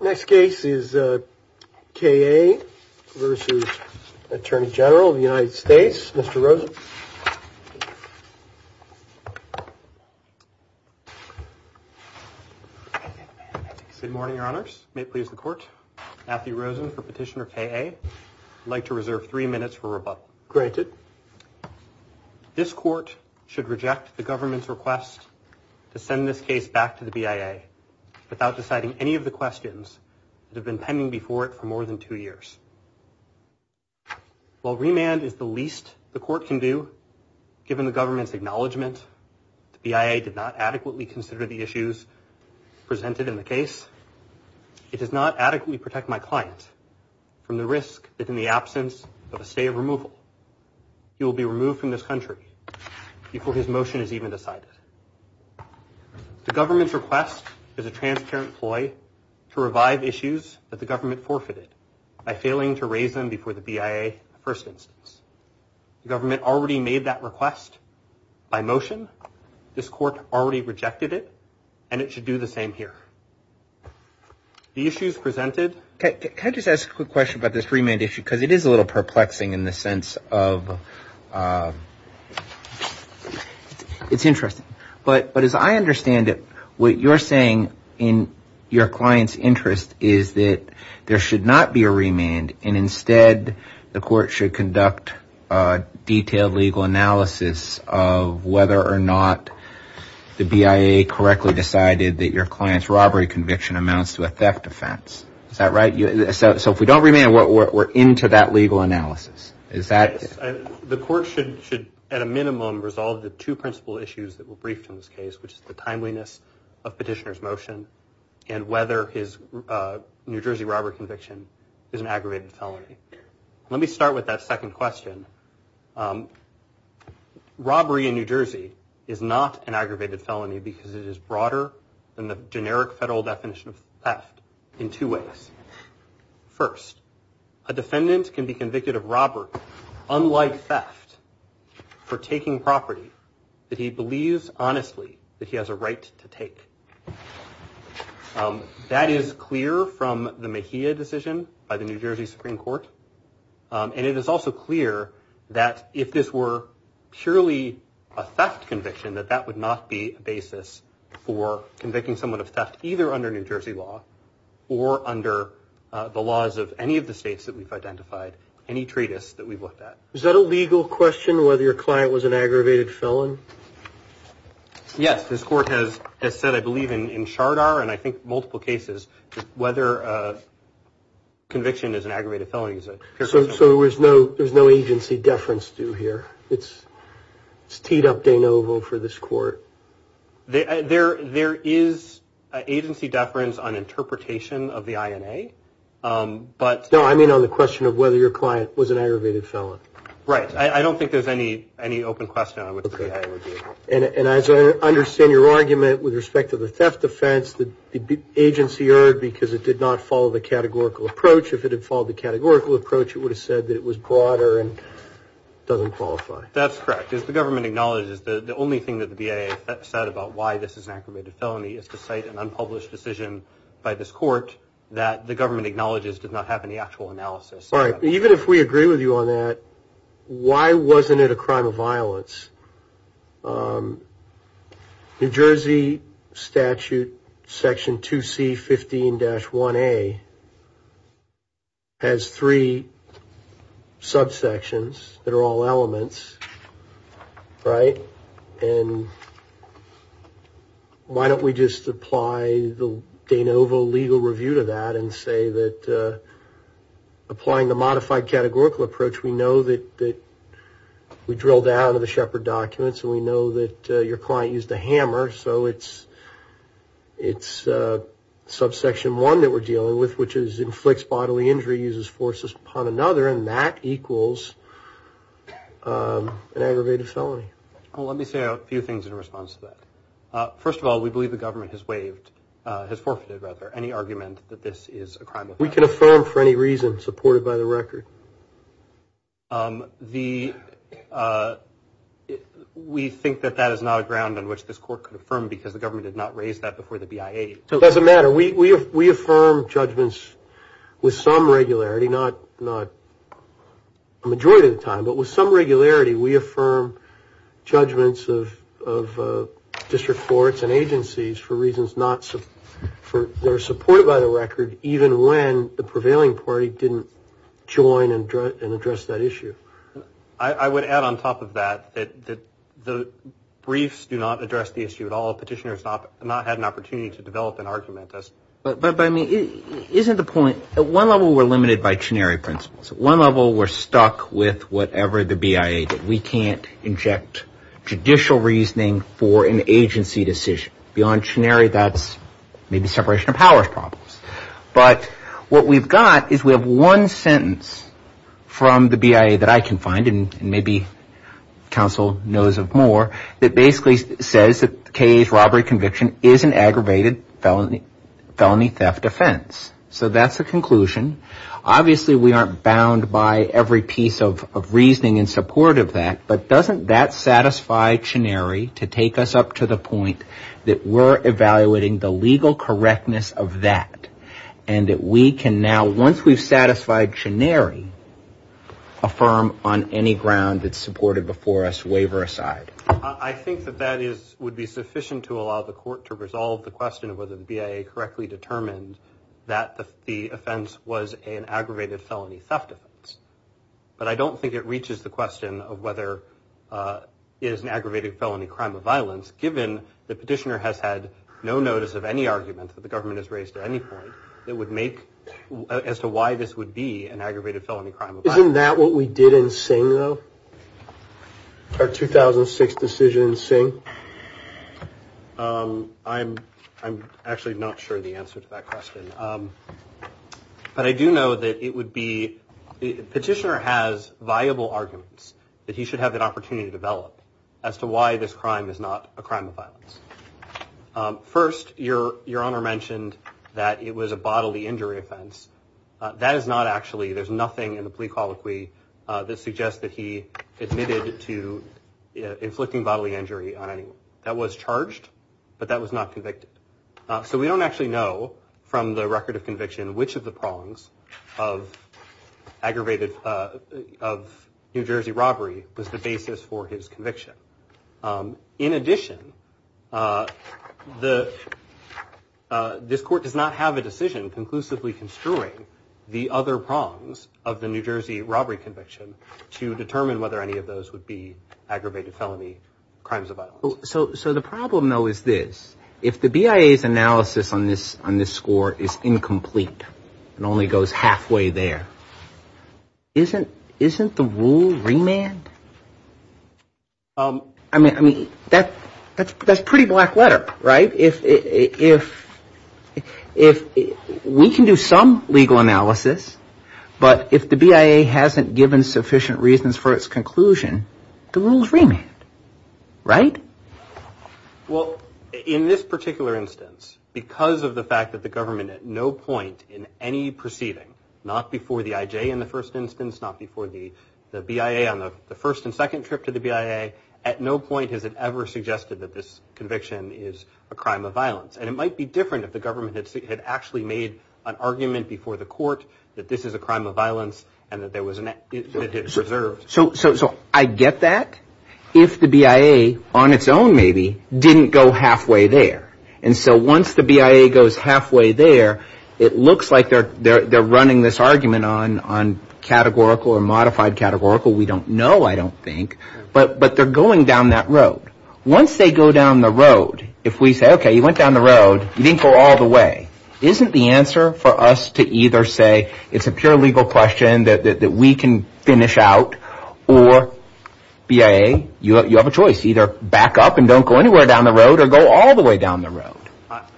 Next case is K. A. vs. Attorney General of the United States, Mr. Rosen. Good morning, Your Honors. May it please the Court, Matthew Rosen for Petitioner K. A. I'd like to reserve three minutes for rebuttal. Granted. This Court should reject the government's request to send this case back to the BIA without deciding any of the questions that have been pending before it for more than two years. While remand is the least the Court can do, given the government's acknowledgement the BIA did not adequately consider the issues presented in the case, it does not adequately protect my client from the risk that in the absence of a stay of removal he will be removed from this country before his motion is even decided. The government's request is a transparent ploy to revive issues that the government forfeited by failing to raise them before the BIA in the first instance. The government already made that request by motion. This Court already rejected it, and it should do the same here. The issues presented... Can I just ask a quick question about this remand issue? Because it is a little perplexing in the sense of... It's interesting. But as I understand it, what you're saying in your client's interest is that there should not be a remand and instead the Court should conduct a detailed legal analysis of whether or not the BIA correctly decided that your client's robbery conviction amounts to a theft offense. Is that right? So if we don't remand, we're into that legal analysis. The Court should at a minimum resolve the two principal issues that were briefed in this case, which is the timeliness of petitioner's motion and whether his New Jersey robbery conviction is an aggravated felony. Let me start with that second question. Robbery in New Jersey is not an aggravated felony because it is broader than the generic federal definition of theft in two ways. First, a defendant can be convicted of robbery, unlike theft, for taking property that he believes honestly that he has a right to take. That is clear from the Mejia decision by the New Jersey Supreme Court. And it is also clear that if this were purely a theft conviction, that that would not be a basis for convicting someone of theft either under New Jersey law or under the laws of any of the states that we've identified, any treatise that we've looked at. Is that a legal question, whether your client was an aggravated felon? This Court has said, I believe, in Chardar and I think multiple cases, whether a conviction is an aggravated felony. So there's no agency deference due here. It's teed up de novo for this Court. There is agency deference on interpretation of the INA. No, I mean on the question of whether your client was an aggravated felon. Right. I don't think there's any open question on what the INA would be. And as I understand your argument with respect to the theft offense, the agency erred because it did not follow the categorical approach. If it had followed the categorical approach, it would have said that it was broader and doesn't qualify. That's correct. As the government acknowledges, the only thing that the BIA said about why this is an aggravated felony is to cite an unpublished decision by this Court that the government acknowledges did not have any actual analysis. All right. Even if we agree with you on that, why wasn't it a crime of violence? New Jersey statute section 2C15-1A has three subsections that are all elements. Right. And why don't we just apply the de novo legal review to that and say that applying the modified categorical approach, we know that we drilled down to the Shepard documents and we know that your client used a hammer, so it's subsection 1 that we're dealing with, which is inflicts bodily injury, uses force upon another, and that equals an aggravated felony. Well, let me say a few things in response to that. First of all, we believe the government has waived, has forfeited, rather, any argument that this is a crime of violence. We can affirm for any reason supported by the record. We think that that is not a ground on which this Court could affirm because the government did not raise that before the BIA. It doesn't matter. We affirm judgments with some regularity, not a majority of the time, but with some regularity we affirm judgments of district courts and agencies for reasons not supported by the record, even when the prevailing party didn't join and address that issue. I would add on top of that that the briefs do not address the issue at all. Petitioners have not had an opportunity to develop an argument. But, I mean, isn't the point, at one level we're limited by chenery principles. At one level we're stuck with whatever the BIA did. We can't inject judicial reasoning for an agency decision. Beyond chenery, that's maybe separation of powers problems. But what we've got is we have one sentence from the BIA that I can find, and maybe counsel knows of more, that basically says that K.A.'s robbery conviction is an aggravated felony theft offense. So that's the conclusion. Obviously, we aren't bound by every piece of reasoning in support of that. But doesn't that satisfy chenery to take us up to the point that we're evaluating the legal correctness of that, and that we can now, once we've satisfied chenery, affirm on any ground that's supported before us, waiver aside. I think that that would be sufficient to allow the court to resolve the question of whether the BIA correctly determined that the offense was an aggravated felony theft offense. But I don't think it reaches the question of whether it is an aggravated felony crime of violence, given the petitioner has had no notice of any argument that the government has raised at any point that would make, as to why this would be an aggravated felony crime of violence. Isn't that what we did in Singh, though? Our 2006 decision in Singh? I'm actually not sure the answer to that question. But I do know that it would be the petitioner has viable arguments that he should have an opportunity to develop, as to why this crime is not a crime of violence. First, your your honor mentioned that it was a bodily injury offense. That is not actually there's nothing in the plea colloquy that suggests that he admitted to inflicting bodily injury on anyone that was charged. But that was not convicted. So we don't actually know from the record of conviction which of the prongs of aggravated of New Jersey robbery was the basis for his conviction. In addition, the this court does not have a decision conclusively construing the other prongs of the New Jersey robbery conviction to determine whether any of those would be aggravated felony crimes. So the problem, though, is this. If the BIA's analysis on this on this score is incomplete and only goes halfway there, isn't isn't the rule remand? I mean, I mean, that that's that's pretty black letter. Right. If if if we can do some legal analysis, but if the BIA hasn't given sufficient reasons for its conclusion, the rules remain. Right. Well, in this particular instance, because of the fact that the government at no point in any proceeding, not before the IJ in the first instance, not before the the BIA on the first and second trip to the BIA. At no point has it ever suggested that this conviction is a crime of violence. And it might be different if the government had actually made an argument before the court that this is a crime of violence and that there was an. So. So. So I get that. If the BIA on its own, maybe didn't go halfway there. And so once the BIA goes halfway there, it looks like they're they're running this argument on on categorical or modified categorical. We don't know. I don't think. But but they're going down that road. Once they go down the road, if we say, OK, you went down the road, you didn't go all the way. Isn't the answer for us to either say it's a pure legal question that we can finish out or BIA? You have a choice. Either back up and don't go anywhere down the road or go all the way down the road.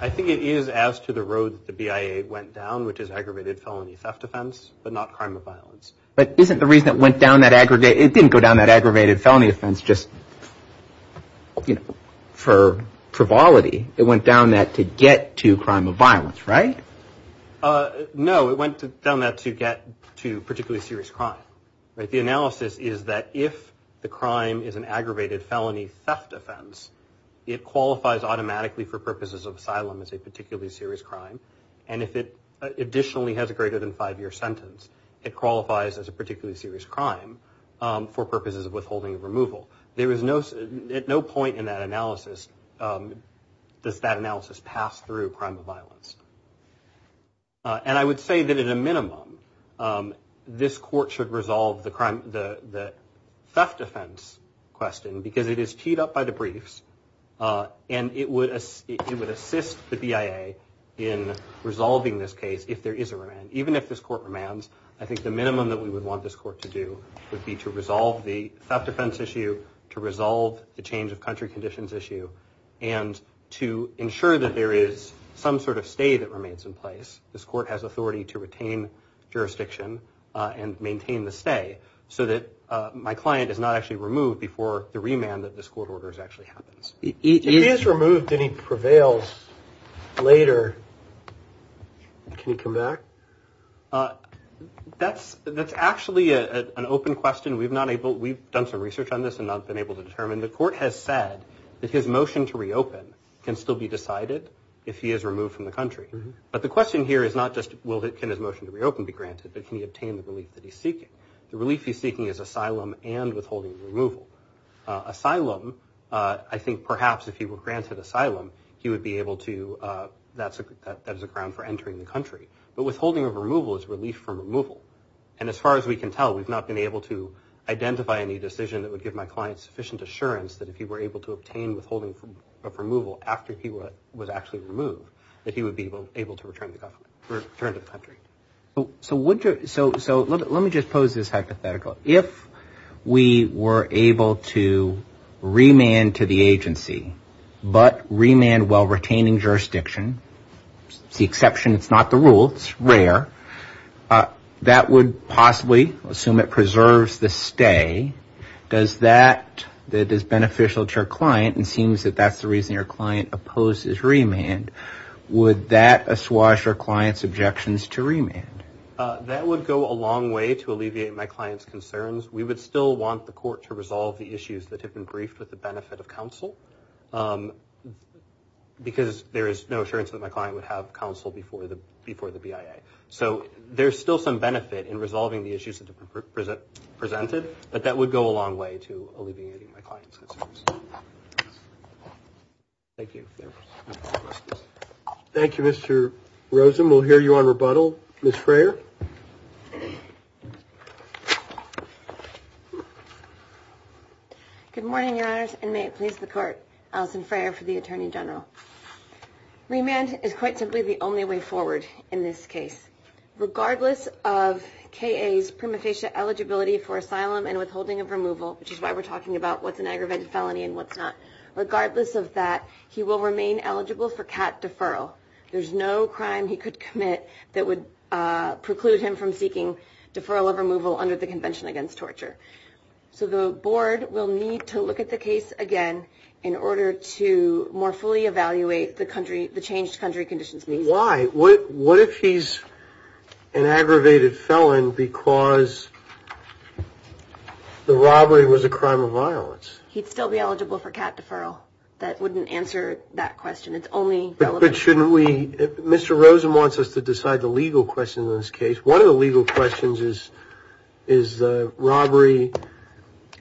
I think it is as to the road the BIA went down, which is aggravated felony theft offense, but not crime of violence. But isn't the reason it went down that aggregate? It didn't go down that aggravated felony offense just for frivolity. It went down that to get to crime of violence. Right. No, it went down that to get to particularly serious crime. The analysis is that if the crime is an aggravated felony theft offense, it qualifies automatically for purposes of asylum as a particularly serious crime. And if it additionally has a greater than five year sentence, it qualifies as a particularly serious crime for purposes of withholding removal. There is no at no point in that analysis. Does that analysis pass through crime of violence? And I would say that at a minimum, this court should resolve the crime. The theft offense question, because it is teed up by the briefs and it would assist the BIA in resolving this case if there is a remand. Even if this court remands, I think the minimum that we would want this court to do would be to resolve the theft defense issue, to resolve the change of country conditions issue and to ensure that there is some sort of stay that remains in place. This court has authority to retain jurisdiction and maintain the stay so that my client is not actually removed before the remand that this court orders actually happens. He is removed and he prevails later. Can you come back? That's that's actually an open question. We've not able. We've done some research on this and not been able to determine the court has said that his motion to reopen can still be decided if he is removed from the country. But the question here is not just will his motion to reopen be granted, but can he obtain the relief that he's seeking? The relief he's seeking is asylum and withholding removal. Asylum. I think perhaps if he were granted asylum, he would be able to. That's that is a ground for entering the country. But withholding of removal is relief from removal. And as far as we can tell, we've not been able to identify any decision that would give my client sufficient assurance that if he were able to obtain withholding of removal after he was actually removed, that he would be able to return to the country. So would you. So let me just pose this hypothetical. If we were able to remand to the agency, but remand while retaining jurisdiction, the exception, it's not the rule. It's rare that would possibly assume it preserves the stay. Does that that is beneficial to your client and seems that that's the reason your client opposes remand? Would that assuage your client's objections to remand? That would go a long way to alleviate my client's concerns. We would still want the court to resolve the issues that have been briefed with the benefit of counsel, because there is no assurance that my client would have counsel before the before the BIA. So there's still some benefit in resolving the issues that are presented, but that would go a long way to alleviating my client's concerns. Thank you. Thank you, Mr. Rosen. We'll hear you on rebuttal. Miss Frayer. Good morning. And may it please the court. Alison Frayer for the attorney general. Remand is quite simply the only way forward in this case. Regardless of Kay's prima facie eligibility for asylum and withholding of removal, which is why we're talking about what's an aggravated felony and what's not. Regardless of that, he will remain eligible for cat deferral. There's no crime he could commit that would preclude him from seeking deferral of removal under the Convention Against Torture. So the board will need to look at the case again in order to more fully evaluate the country, the changed country conditions. Why? What if he's an aggravated felon because the robbery was a crime of violence? He'd still be eligible for cat deferral. That wouldn't answer that question. It's only. But shouldn't we. Mr. Rosen wants us to decide the legal question in this case. One of the legal questions is, is robbery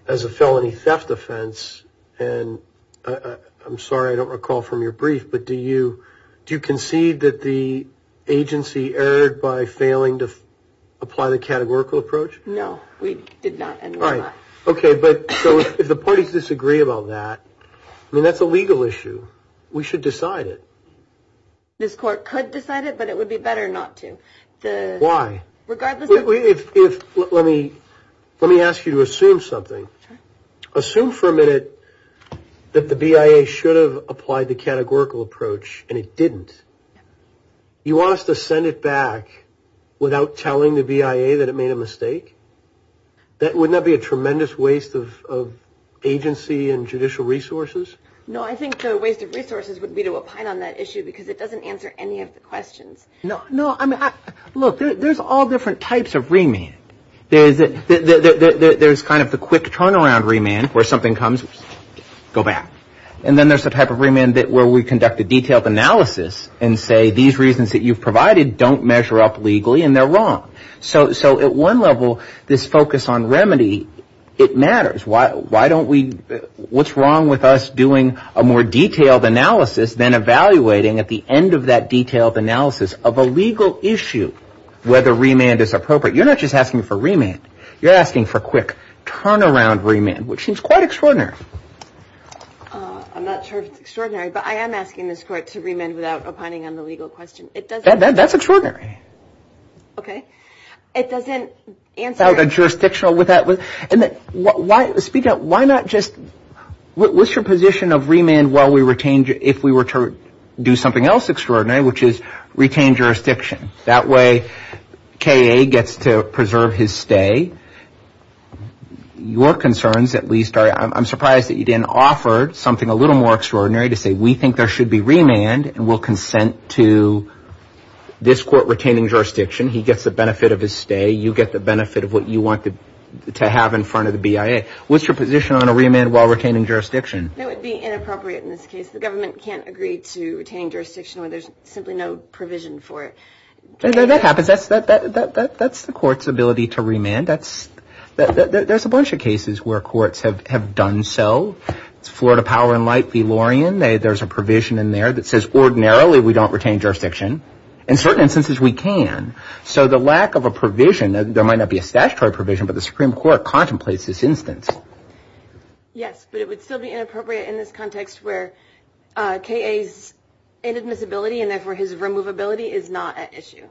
as a felony theft offense. And I'm sorry, I don't recall from your brief, but do you do you concede that the agency erred by failing to apply the categorical approach? No, we did not. All right. OK, but if the parties disagree about that, I mean, that's a legal issue. We should decide it. This court could decide it, but it would be better not to. Why? Regardless, if let me let me ask you to assume something. Assume for a minute that the BIA should have applied the categorical approach and it didn't. You want us to send it back without telling the BIA that it made a mistake. That would not be a tremendous waste of agency and judicial resources. No, I think the waste of resources would be to opine on that issue because it doesn't answer any of the questions. No, no. I mean, look, there's all different types of remand. There is that there's kind of the quick turnaround remand where something comes, go back. And then there's the type of remand that where we conduct a detailed analysis and say these reasons that you've provided don't measure up legally and they're wrong. So so at one level, this focus on remedy, it matters. Why? Why don't we what's wrong with us doing a more detailed analysis than evaluating at the end of that detailed analysis of a legal issue? Whether remand is appropriate. You're not just asking for remand. You're asking for quick turnaround remand, which seems quite extraordinary. I'm not sure if it's extraordinary, but I am asking this court to remand without opining on the legal question. That's extraordinary. OK, it doesn't answer the jurisdictional with that. And why speak out? Why not just what's your position of remand? Well, we retained if we were to do something else extraordinary, which is retain jurisdiction. That way, Kaye gets to preserve his stay. Your concerns, at least, are I'm surprised that you didn't offer something a little more extraordinary to say we think there should be remand. And we'll consent to this court retaining jurisdiction. He gets the benefit of his stay. You get the benefit of what you want to have in front of the BIA. What's your position on a remand while retaining jurisdiction? It would be inappropriate in this case. The government can't agree to retaining jurisdiction where there's simply no provision for it. That happens. That's that. That's the court's ability to remand. That's that. There's a bunch of cases where courts have have done so. Florida Power and Light v. Lorien, there's a provision in there that says ordinarily we don't retain jurisdiction. In certain instances, we can. So the lack of a provision, there might not be a statutory provision, but the Supreme Court contemplates this instance. Yes, but it would still be inappropriate in this context where Kaye's inadmissibility and therefore his removability is not an issue.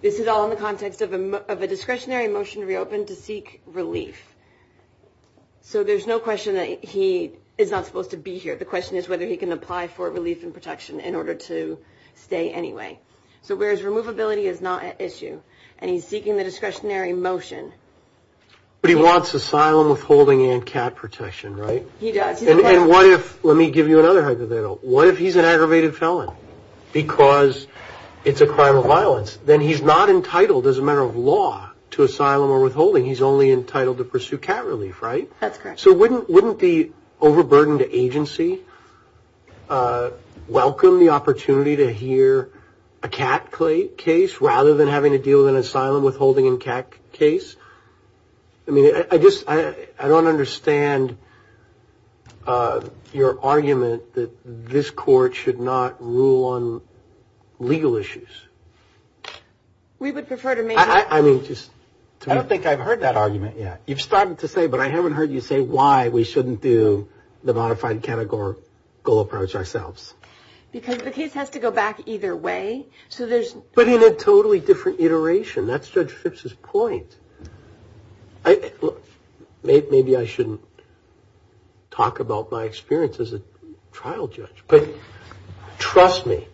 This is all in the context of a discretionary motion to reopen to seek relief. So there's no question that he is not supposed to be here. The question is whether he can apply for relief and protection in order to stay anyway. So where his removability is not an issue and he's seeking the discretionary motion. But he wants asylum withholding and cat protection, right? He does. And what if let me give you another hypothetical. What if he's an aggravated felon because it's a crime of violence? Then he's not entitled as a matter of law to asylum or withholding. He's only entitled to pursue cat relief, right? That's correct. So wouldn't the overburdened agency welcome the opportunity to hear a cat case rather than having to deal with an asylum withholding and cat case? I mean, I just I don't understand your argument that this court should not rule on legal issues. We would prefer to make. I don't think I've heard that argument yet. You've started to say, but I haven't heard you say why we shouldn't do the modified categorical approach ourselves. Because the case has to go back either way. So there's but in a totally different iteration, that's Judge Phipps's point. Maybe I shouldn't talk about my experience as a trial judge. But trust me,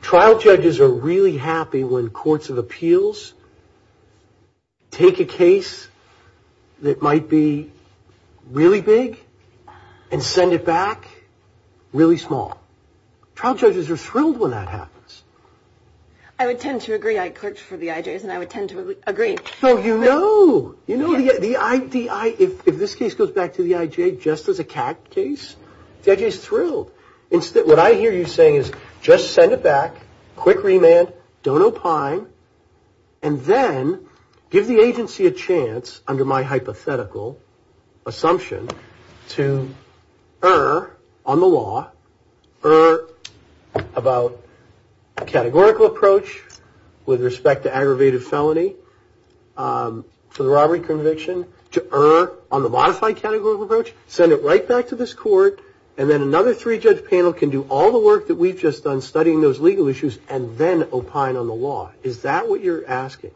trial judges are really happy when courts of appeals take a case that might be really big and send it back really small. Trial judges are thrilled when that happens. I would tend to agree. I clerked for the IJs and I would tend to agree. So, you know, you know, the idea if this case goes back to the IJ just as a cat case, the IJ is thrilled. What I hear you saying is just send it back. Quick remand. Don't opine. And then give the agency a chance under my hypothetical assumption to err on the law. Err about a categorical approach with respect to aggravated felony for the robbery conviction. To err on the modified categorical approach. Send it right back to this court. And then another three-judge panel can do all the work that we've just done studying those legal issues and then opine on the law. Is that what you're asking?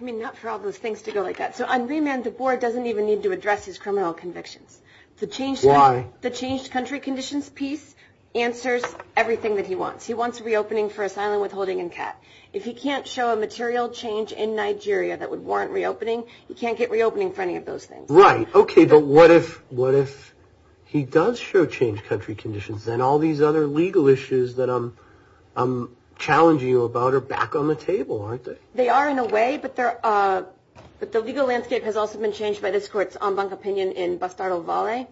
I mean, not for all those things to go like that. So on remand, the board doesn't even need to address his criminal convictions. Why? The changed country conditions piece answers everything that he wants. He wants reopening for asylum withholding and CAT. If he can't show a material change in Nigeria that would warrant reopening, he can't get reopening for any of those things. Right. Okay. But what if he does show changed country conditions? Then all these other legal issues that I'm challenging you about are back on the table, aren't they? They are in a way, but the legal landscape has also been changed by this court's en banc opinion in Bastardo Vale.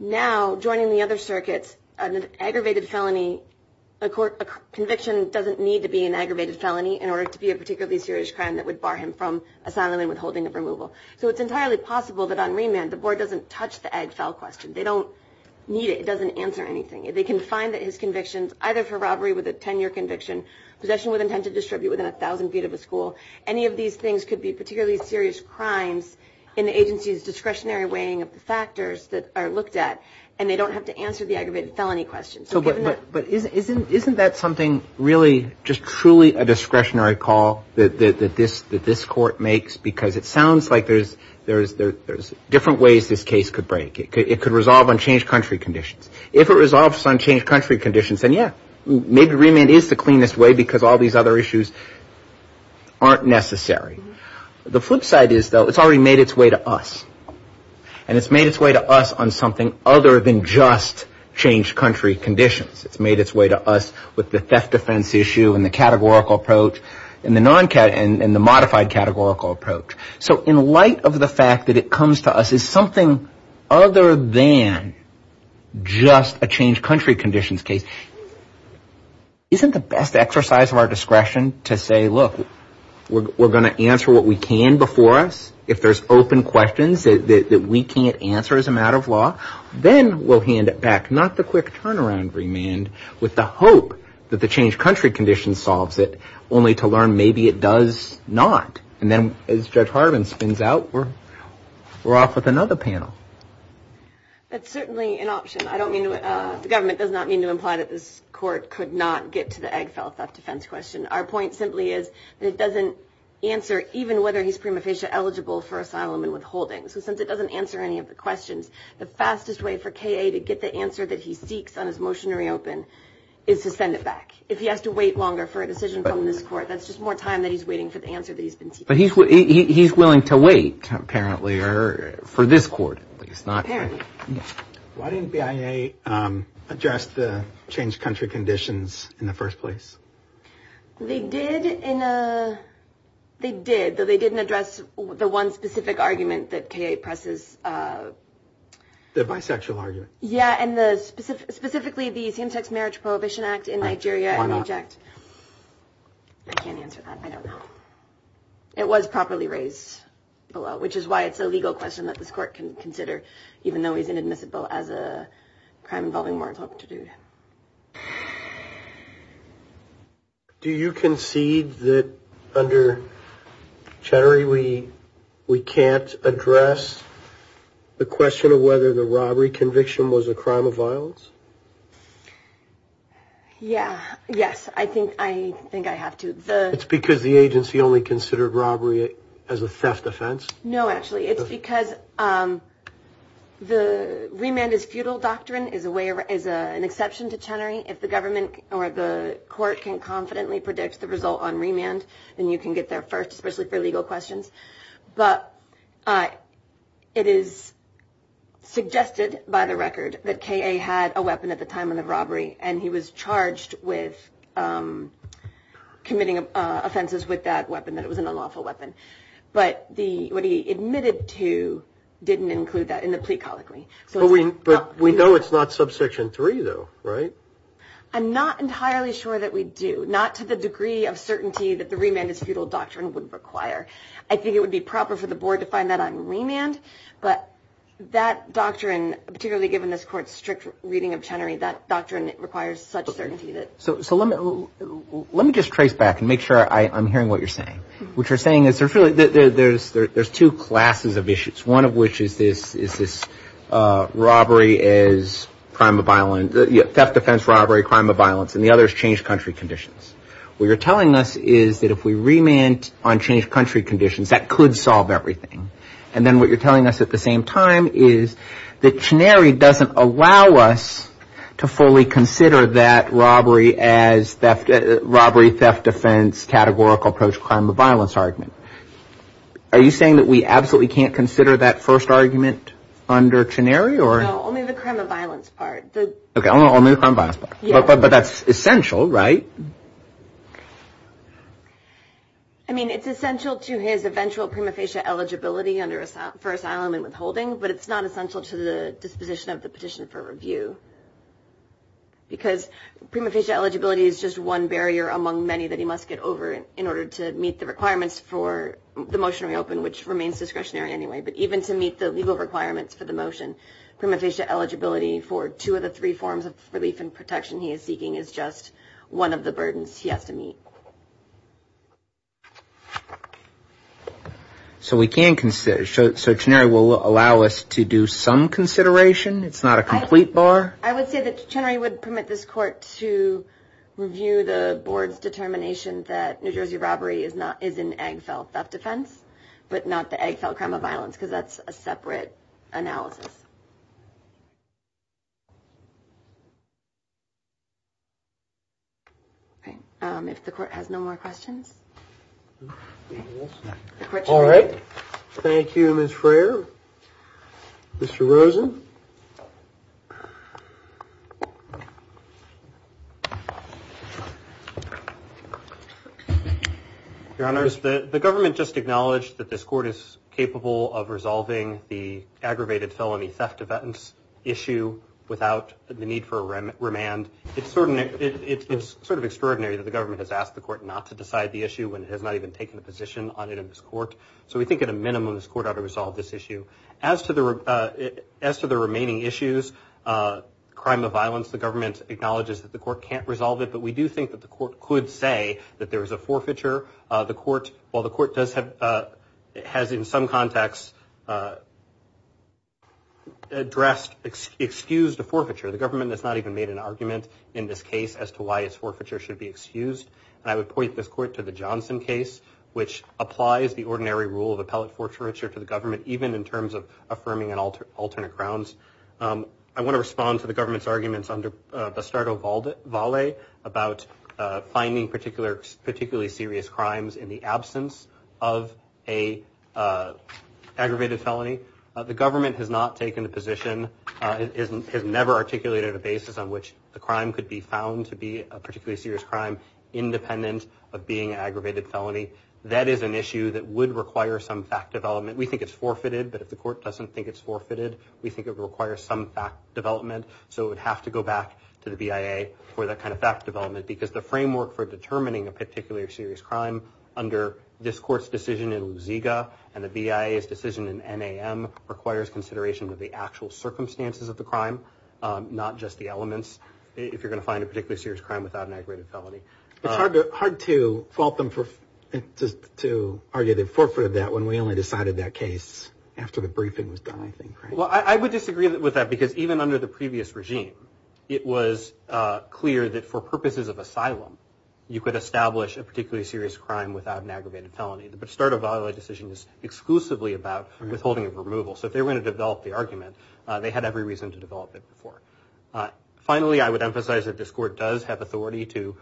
Now, joining the other circuits, an aggravated felony, a conviction doesn't need to be an aggravated felony in order to be a particularly serious crime that would bar him from asylum and withholding of removal. So it's entirely possible that on remand, the board doesn't touch the Ag Fel question. They don't need it. It doesn't answer anything. They can find that his convictions, either for robbery with a 10-year conviction, possession with intent to distribute within 1,000 feet of a school. Any of these things could be particularly serious crimes in the agency's discretionary weighing of the factors that are looked at, and they don't have to answer the aggravated felony question. But isn't that something really just truly a discretionary call that this court makes? Because it sounds like there's different ways this case could break. It could resolve on changed country conditions. If it resolves on changed country conditions, then, yeah, maybe remand is the cleanest way because all these other issues aren't necessary. The flip side is, though, it's already made its way to us, and it's made its way to us on something other than just changed country conditions. It's made its way to us with the theft defense issue and the categorical approach and the modified categorical approach. So in light of the fact that it comes to us as something other than just a changed country conditions case, isn't the best exercise of our discretion to say, look, we're going to answer what we can before us if there's open questions that we can't answer as a matter of law? Then we'll hand it back, not the quick turnaround remand, with the hope that the changed country conditions solves it, only to learn maybe it does not. And then as Judge Harbin spins out, we're off with another panel. That's certainly an option. I don't mean to – the government does not mean to imply that this court could not get to the Agfel theft defense question. Our point simply is that it doesn't answer even whether he's prima facie eligible for asylum and withholding. So since it doesn't answer any of the questions, the fastest way for K.A. to get the answer that he seeks on his motion to reopen is to send it back. If he has to wait longer for a decision from this court, that's just more time that he's waiting for the answer that he's been seeking. But he's willing to wait, apparently, for this court. Apparently. Why didn't BIA address the changed country conditions in the first place? They did, though they didn't address the one specific argument that K.A. presses. The bisexual argument. Yeah, and specifically the same-sex marriage prohibition act in Nigeria. Why not? I can't answer that. I don't know. It was properly raised below, which is why it's a legal question that this court can consider, even though he's inadmissible as a crime involving moral torture. Do you concede that under Chattery we can't address the question of whether the robbery conviction was a crime of violence? Yeah, yes. I think I think I have to. It's because the agency only considered robbery as a theft offense. No, actually, it's because the remand is futile doctrine is a way is an exception to Chattery. If the government or the court can confidently predict the result on remand, then you can get there first, especially for legal questions. But it is suggested by the record that K.A. had a weapon at the time of the robbery and he was charged with committing offenses with that weapon, that it was an unlawful weapon. But the what he admitted to didn't include that in the plea colloquy. So we but we know it's not subsection three, though, right? I'm not entirely sure that we do not to the degree of certainty that the remand is futile doctrine would require. I think it would be proper for the board to find that on remand. But that doctrine, particularly given this court's strict reading of Chattery, that doctrine requires such certainty that. So let me just trace back and make sure I'm hearing what you're saying. What you're saying is there's really there's there's two classes of issues, one of which is this is this robbery is crime of violence, theft, offense, robbery, crime of violence, and the other is changed country conditions. What you're telling us is that if we remand on changed country conditions, that could solve everything. And then what you're telling us at the same time is that Chattery doesn't allow us to fully consider that robbery as theft, robbery, theft, defense, categorical approach, crime of violence argument. Are you saying that we absolutely can't consider that first argument under Chattery or only the crime of violence part? But that's essential, right? I mean, it's essential to his eventual prima facie eligibility under for asylum and withholding, but it's not essential to the disposition of the petition for review. Because prima facie eligibility is just one barrier among many that he must get over in order to meet the requirements for the motion reopen, which remains discretionary anyway. But even to meet the legal requirements for the motion, prima facie eligibility for two of the three forms of relief and protection he is seeking is just one of the burdens he has to meet. So we can consider it will allow us to do some consideration. It's not a complete bar. I would say that I would permit this court to review the board's determination that New Jersey robbery is not is an egg fell. That defense, but not the egg fell crime of violence, because that's a separate analysis. If the court has no more questions. All right. Thank you. Mr. Rosen. Your Honor, the government just acknowledged that this court is capable of resolving the aggravated felony theft of evidence issue without the need for a remand. It's sort of extraordinary that the government has asked the court not to decide the issue when it has not even taken a position on it in this court. So we think at a minimum this court ought to resolve this issue as to the as to the remaining issues. Crime of violence. The government acknowledges that the court can't resolve it. But we do think that the court could say that there is a forfeiture. The court, while the court does have has in some context. Addressed, excused a forfeiture. The government has not even made an argument in this case as to why its forfeiture should be excused. I would point this court to the Johnson case, which applies the ordinary rule of appellate forfeiture to the government, even in terms of affirming and alter alternate crowns. I want to respond to the government's arguments under the start of all the volley about finding particular particularly serious crimes in the absence of a aggravated felony. The government has not taken a position, has never articulated a basis on which the crime could be found to be a particularly serious crime independent of being aggravated felony. That is an issue that would require some fact development. We think it's forfeited. But if the court doesn't think it's forfeited, we think it requires some fact development. So it would have to go back to the BIA for that kind of fact development. Because the framework for determining a particular serious crime under this court's decision in Lusiga and the BIA's decision in NAM requires consideration of the actual circumstances of the crime. Not just the elements. If you're going to find a particularly serious crime without an aggravated felony. It's hard to fault them to argue the forfeit of that when we only decided that case after the briefing was done, I think. Well, I would disagree with that. Because even under the previous regime, it was clear that for purposes of asylum, you could establish a particularly serious crime without an aggravated felony. The start of a volley decision is exclusively about withholding of removal. So if they were going to develop the argument, they had every reason to develop it before. Finally, I would emphasize that this court does have authority to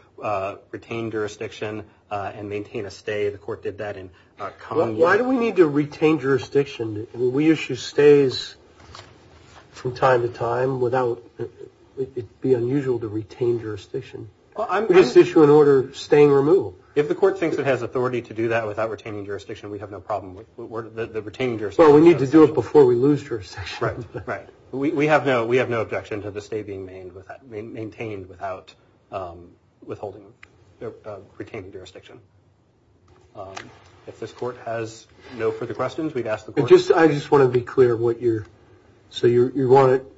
retain jurisdiction and maintain a stay. The court did that in Commonwealth. Why do we need to retain jurisdiction? We issue stays from time to time. It would be unusual to retain jurisdiction. We just issue an order staying removal. If the court thinks it has authority to do that without retaining jurisdiction, we have no problem with the retaining jurisdiction. Well, we need to do it before we lose jurisdiction. Right. We have no objection to the stay being maintained without withholding or retaining jurisdiction. If this court has no further questions, we'd ask the court. I just want to be clear what you're – so you want it –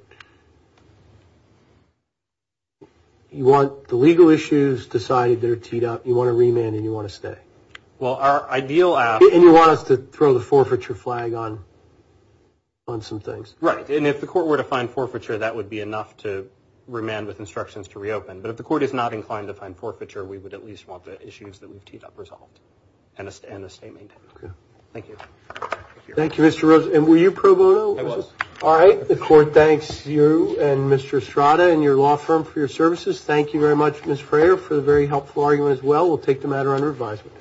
you want the legal issues decided, they're teed up. You want to remand and you want to stay. Well, our ideal – And you want us to throw the forfeiture flag on some things. Right. And if the court were to find forfeiture, that would be enough to remand with instructions to reopen. But if the court is not inclined to find forfeiture, we would at least want the issues that we've teed up resolved and a stay maintained. Okay. Thank you. Thank you, Mr. Rosen. And were you pro bono? I was. All right. The court thanks you and Mr. Estrada and your law firm for your services. Thank you very much, Ms. Frayer, for the very helpful argument as well. We'll take the matter under advisement.